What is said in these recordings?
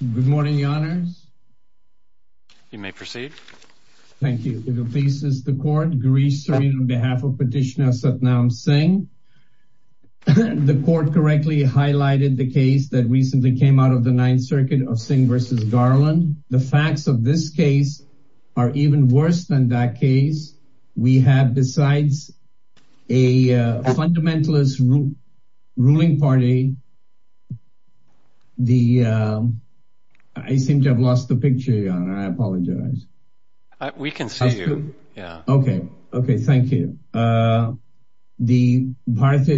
Good morning, your honors. You may proceed. Thank you. This is the court grease on behalf of Petitioner Satnam Singh. The court correctly highlighted the case that recently came out of the Ninth Circuit of Singh v. Garland. The facts of this case are even worse than that case. We have besides a fundamentalist ruling party, the Bharatiya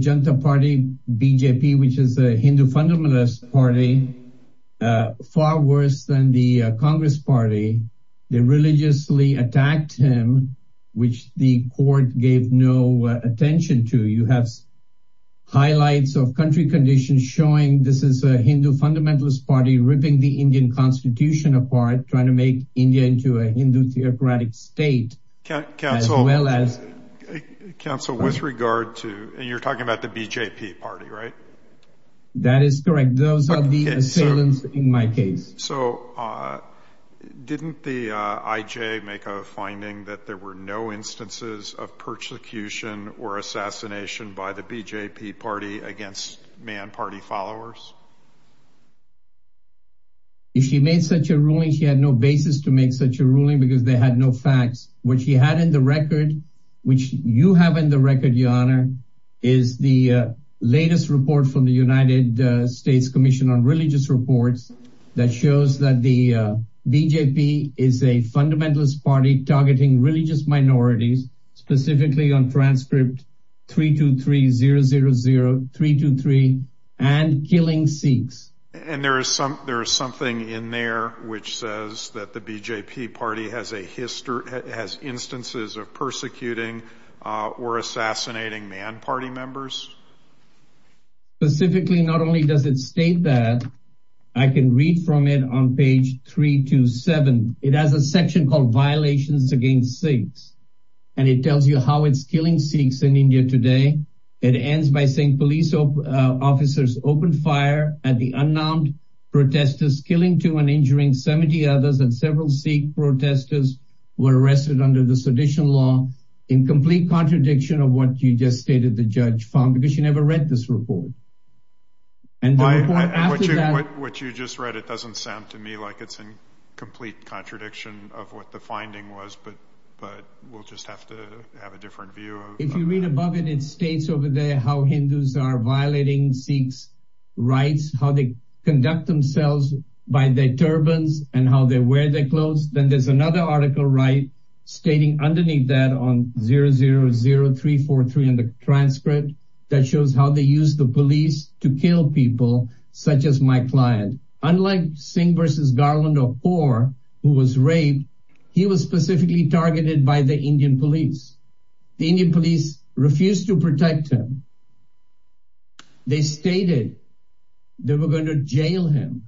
Janata Party BJP, which is a Hindu fundamentalist party, far worse than the Congress Party. They religiously attacked him, which the court gave no attention to. You have highlights of country conditions showing this is a Hindu fundamentalist party ripping the Indian Constitution apart trying to make India into a Hindu theocratic state. You're talking about the BJP party, right? That is correct. Those are the assailants in my case. So didn't the IJ make a finding that there were no instances of persecution or assassination by the BJP party against man party followers? If she made such a ruling, she had no basis to make such a ruling because they had no facts. What she had in the record, which you have in the record, your honor, is the latest report from the United States Commission on Religious Reports that shows that the BJP is a fundamentalist party targeting religious minorities, specifically on transcript 323000323 and killing Sikhs. And there is something in there which says that the BJP party has instances of persecuting or assassinating man party members. Specifically, not only does it state that, I can read from it on page 327. It has a section called violations against Sikhs. And it tells you how it's killing Sikhs in India today. It ends by saying police officers opened fire at the unarmed protesters killing two and injuring 70 others and several Sikh protesters were arrested under the sedition law in complete contradiction of what you just stated the judge found because you never read this report. And what you just read, it doesn't sound to me like it's in complete contradiction of what the finding was, but but we'll just have to have a different view. If you read above it, it states over there how Hindus are violating Sikhs rights, how they conduct themselves by their turbans, and how they wear their clothes. Then there's another article right, stating underneath that on 000343 in the transcript, that shows how they use the police to kill people, such as my client, unlike Singh versus Garland or or who was raped, he was specifically targeted by the Indian police. The Indian police refused to protect him. They stated they were going to jail him.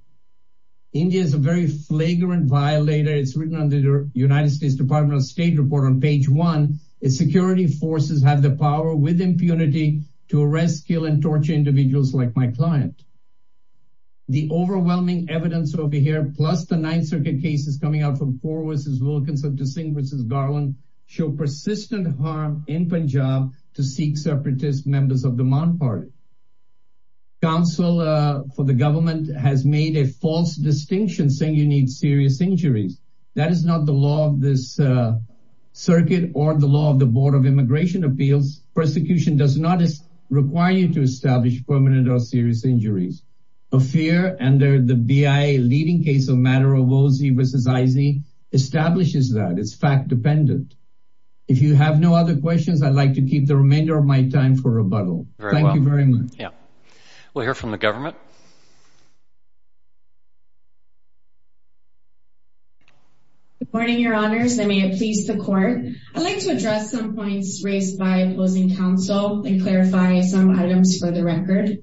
India is a very flagrant violator is written under the United States Department of State report on page one, is security forces have the power with impunity to arrest, kill and torture individuals like my client. The overwhelming evidence over here plus the Ninth Circuit cases coming out from four versus Wilkinson to sing versus Garland show persistent harm in Punjab to seek separatist members of the Mon party. Council for the government has made a false distinction saying you need serious injuries. That is not the law of this circuit or the law of the Board of Immigration appeals. Persecution does not require you to establish permanent or serious injuries of fear and they're the bi leading case of matter of Aussie versus Izzy establishes that it's fact dependent. If you have no other questions, I'd like to keep the remainder of my time for rebuttal. Thank you very much. Yeah, we'll hear from the government. Good morning, your honors. I may have pleased the court. I'd like to address some points raised by opposing counsel and clarify some items for the record.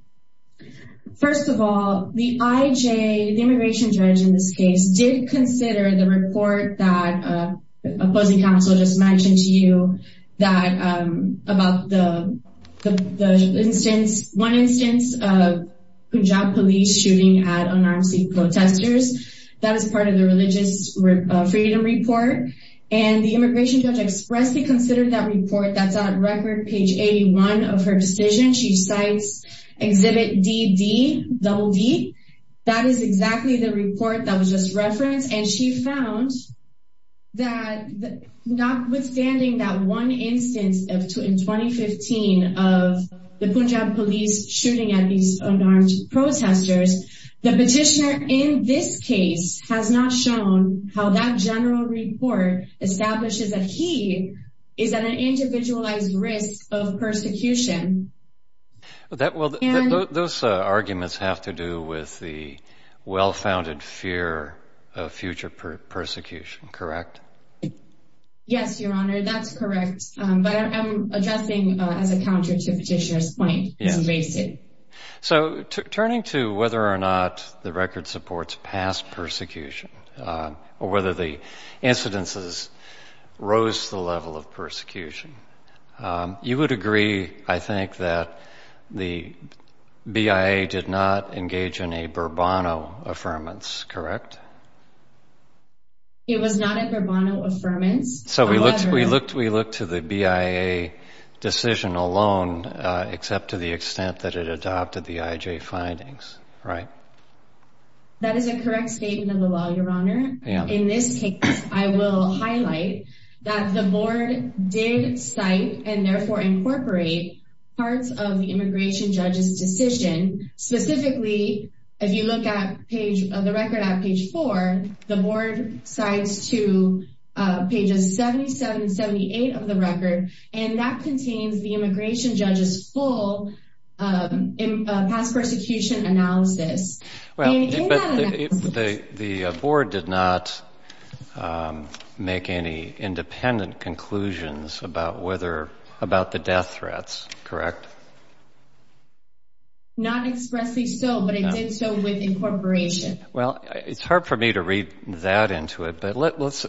First of all, the IJ immigration judge in this case did consider the report that opposing counsel just mentioned to you that about the instance, one instance of Punjab police shooting at unarmed protesters. That is part of the religious freedom report. And the immigration judge expressly considered that report that's on record page 81 of her decision. She cites exhibit DD double D. That is exactly the report that was just referenced. And she found that notwithstanding that one instance of two in 2015 of the Punjab police shooting at these unarmed protesters, the petitioner in this case has not shown how that general report establishes that he is an individualized risk of persecution. Well, those arguments have to do with the well-founded fear of future persecution, correct? Yes, your honor. That's correct. But I'm addressing as a counter to petitioner's point. It's basic. So turning to whether or not the record supports past persecution or whether the incidences rose to the level of persecution, you would agree, I think, that the BIA did not engage in a Burbano Affirmance, correct? It was not a Burbano Affirmance. So we looked, we looked, we looked to the BIA decision alone, except to the extent that it adopted the IJ findings, right? That is a correct statement of the law, your honor. In this case, I will highlight that the board did cite and therefore incorporate parts of the immigration judge's decision. Specifically, if you look at page of the record at page four, the board cites to pages 77 and 78 of the record, and that contains the whole past persecution analysis. Well, the board did not make any independent conclusions about whether, about the death threats, correct? Not expressly so, but it did so with incorporation. Well, it's hard for me to read that into it, but let's,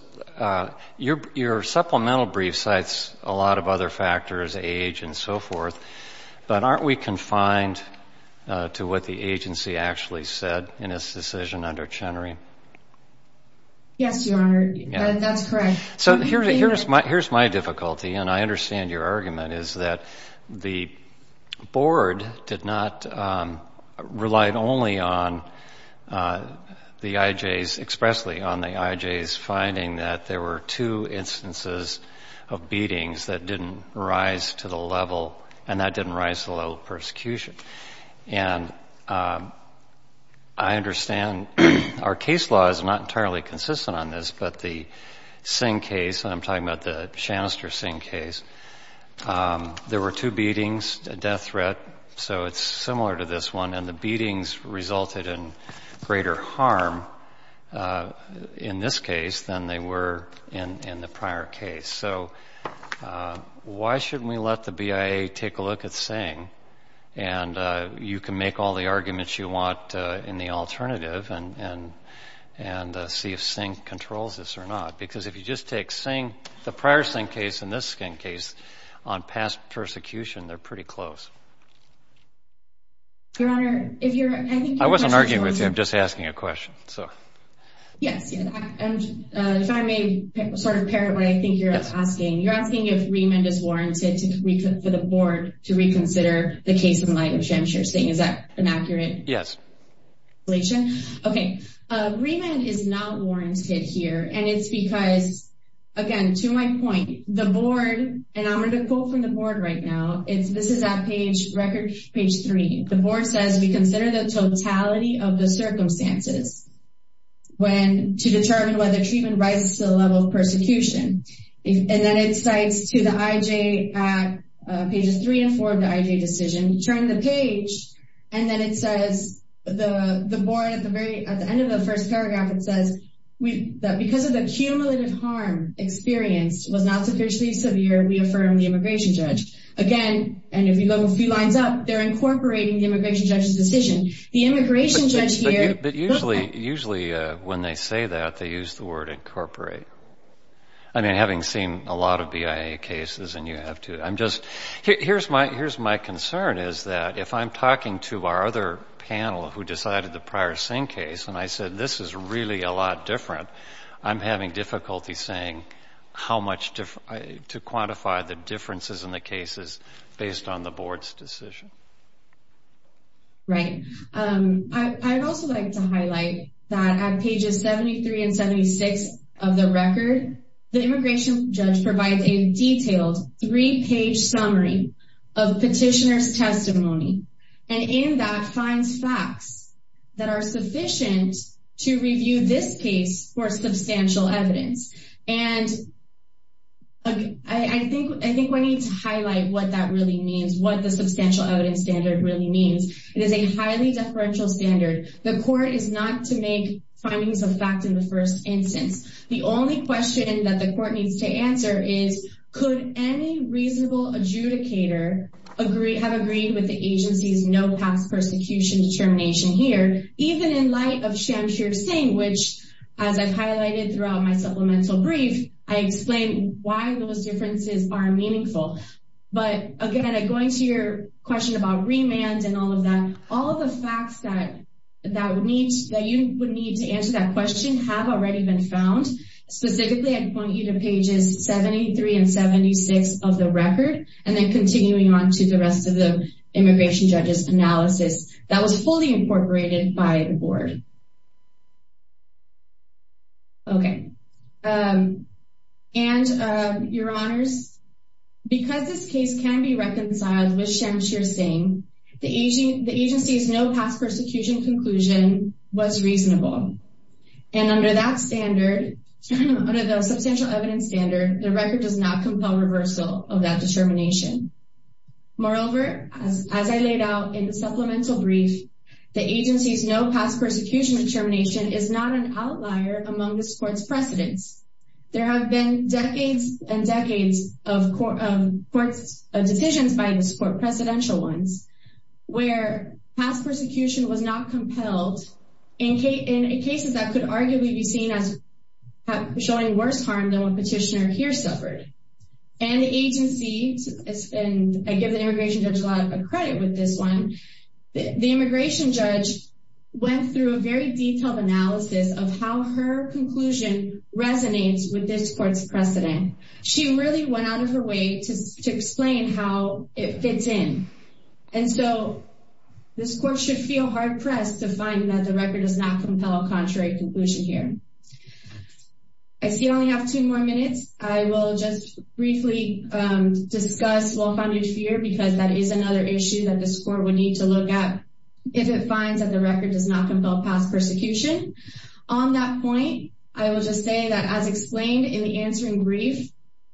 your supplemental brief cites a and so forth, but aren't we confined to what the agency actually said in its decision under Chenery? Yes, your honor, that's correct. So here's my difficulty, and I understand your argument, is that the board did not, relied only on the IJs, expressly on the IJs finding that there were two instances of beatings that didn't rise to the level, and that didn't rise to the level of persecution. And I understand our case law is not entirely consistent on this, but the Singh case, and I'm talking about the Shanister-Singh case, there were two beatings, a death threat, so it's similar to this one, and the beatings harm in this case than they were in the prior case. So why shouldn't we let the BIA take a look at Singh, and you can make all the arguments you want in the alternative and see if Singh controls this or not, because if you just take Singh, the prior Singh case and this Singh case on past persecution, they're pretty close. Your honor, I wasn't arguing with you, I'm just asking a question. Yes, and if I may sort of parrot what I think you're asking, you're asking if remand is warranted for the board to reconsider the case in light of Shanister-Singh, is that an accurate explanation? Yes. Okay, remand is not warranted here, and it's because, again, to my point, the board, and I'm going to quote from the board right now, this is at page three, the board says, we consider the totality of the circumstances to determine whether treatment rises to the level of persecution. And then it cites to the IJ at pages three and four of the IJ decision, turn the page, and then it says, the board at the end of the first paragraph, it says, because of the cumulative harm experienced was not sufficiently severe, we affirm the immigration judge. Again, and if you look a few lines up, they're incorporating the immigration judge's decision. The immigration judge here... But usually, when they say that, they use the word incorporate. I mean, having seen a lot of BIA cases, and you have too, I'm just... Here's my concern, is that if I'm talking to our other panel who decided the Pryor-Singh case, and I said, this is really a lot different, I'm having difficulty saying how much to quantify the differences in the cases based on the board's decision. Right. I'd also like to highlight that at the end, the immigration judge provides a detailed three-page summary of petitioner's testimony, and in that, finds facts that are sufficient to review this case for substantial evidence. And I think we need to highlight what that really means, what the substantial evidence standard really means. It is a highly deferential standard. The court is not to make findings of fact in the first instance. The only question that the court needs to answer is, could any reasonable adjudicator have agreed with the agency's no-pass persecution determination here, even in light of Shamshir-Singh, which, as I've highlighted throughout my supplemental brief, I explained why those differences are meaningful. But again, going to your question about remand and all of that, all of the facts that you would need to answer that question have already been found. Specifically, I'd point you to pages 73 and 76 of the record, and then continuing on to the rest of the immigration judge's analysis that was fully incorporated by the board. Okay. And, your honors, because this case can be reconciled with Shamshir-Singh, the agency's no-pass persecution conclusion was reasonable. And under that standard, under the substantial evidence standard, the record does not compel reversal of that determination. Moreover, as I laid out in the supplemental brief, the agency's no-pass persecution determination is not an outlier among this court's precedents. There have been decades and decades of decisions by this court, presidential ones, where pass persecution was not compelled in cases that could arguably be seen as showing worse harm than what Petitioner here suffered. And the agency, and I give the immigration judge a lot of credit with this one, the immigration judge went through a very detailed analysis of how her conclusion resonates with this court's precedent. She really went out of her way to explain how it fits in. And so, this court should feel hard-pressed to find that the record does not compel a contrary conclusion here. I see we only have two more minutes. I will just briefly discuss well-founded fear because that is another issue that this does not compel pass persecution. On that point, I will just say that as explained in the answering brief,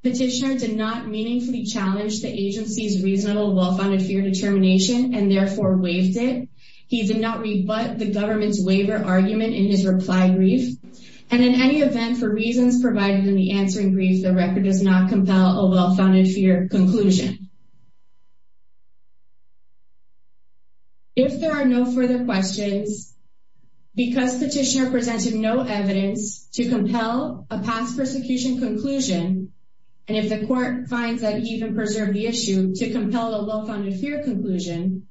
Petitioner did not meaningfully challenge the agency's reasonable well-founded fear determination and therefore waived it. He did not rebut the government's waiver argument in his reply brief. And in any event, for reasons provided in the answering brief, the record does not compel a well-founded fear conclusion. If there are no further questions, because Petitioner presented no evidence to compel a pass persecution conclusion, and if the court finds that he even preserved the issue to compel a well-founded fear conclusion,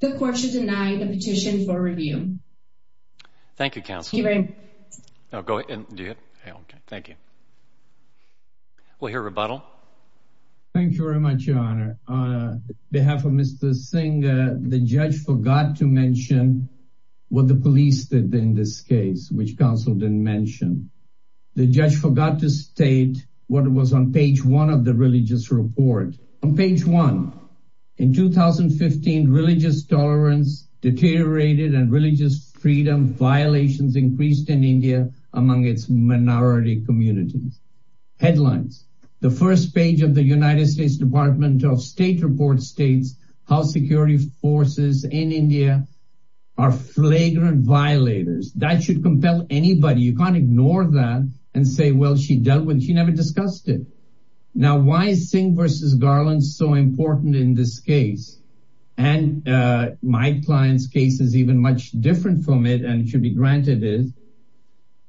the court should deny the petition for review. Thank you, counsel. Thank you very much. I'll go ahead and do it. Thank you. We'll hear rebuttal. Thank you very much, Your Honor. On behalf of Mr. Singh, the judge forgot to mention what the police did in this case, which counsel didn't mention. The judge forgot to state what was on page one of the religious report. On page one, in 2015, religious tolerance deteriorated and religious freedom violations increased in India among its minority communities. Headlines. The first page of the United States Department of State report states how security forces in India are flagrant violators. That should compel anybody. You can't ignore that and say, well, she dealt with it. She never discussed it. Now, why is Singh versus Garland so important in this case? And my client's case is even much different from it, and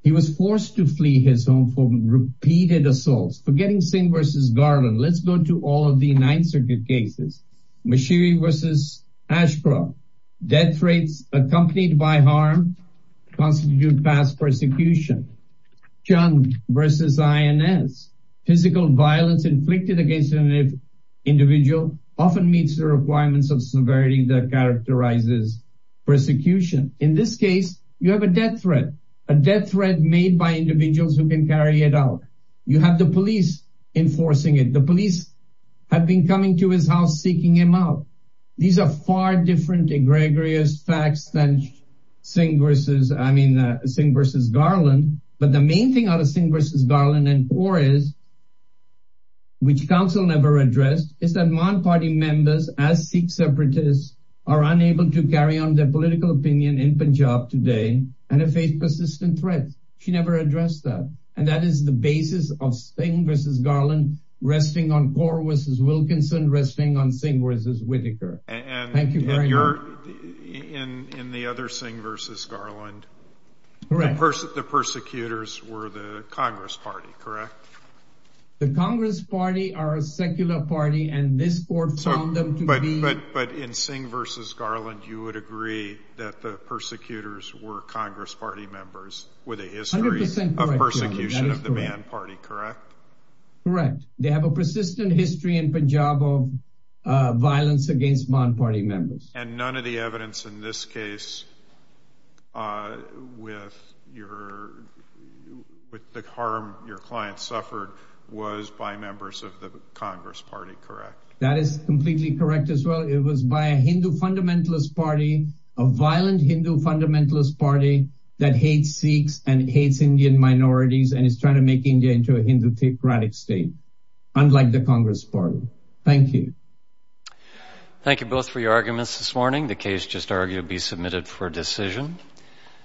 it was forced to flee his home for repeated assaults. Forgetting Singh versus Garland. Let's go to all of the Ninth Circuit cases. Mashiri versus Ashcroft. Death rates accompanied by harm constitute past persecution. Chung versus INS. Physical violence inflicted against an individual often meets the requirements of severity that characterizes persecution. In this case, you have a death threat. A death threat made by individuals who can carry it out. You have the police enforcing it. The police have been coming to his house seeking him out. These are far different egregious facts than Singh versus, I mean, Singh versus Garland. But the main thing out of Singh versus Garland and Orr is, which counsel never addressed, is that Maan Party members, as Sikh separatists, are unable to carry on their political opinion in Punjab today, and have faced persistent threats. She never addressed that. And that is the basis of Singh versus Garland, resting on Orr versus Wilkinson, resting on Singh versus Whitaker. Thank you very much. And in the other Singh versus Garland, the persecutors were the Congress Party, correct? The Congress Party are a secular party, and this court found them to be... But in Singh versus Garland, you would agree that the persecutors were Congress Party members with a history of persecution of the Maan Party, correct? Correct. They have a persistent history in Punjab of violence against Maan Party members. And none of the evidence in this case with the harm your client suffered was by members of the Congress Party, correct? That is completely correct as well. It was by a Hindu fundamentalist party, a violent Hindu fundamentalist party that hates Sikhs and hates Indian minorities, and is trying to make India into a Hindu-theocratic state, unlike the Congress Party. Thank you. Thank you both for your arguments this morning. The case just argued to be submitted for decision.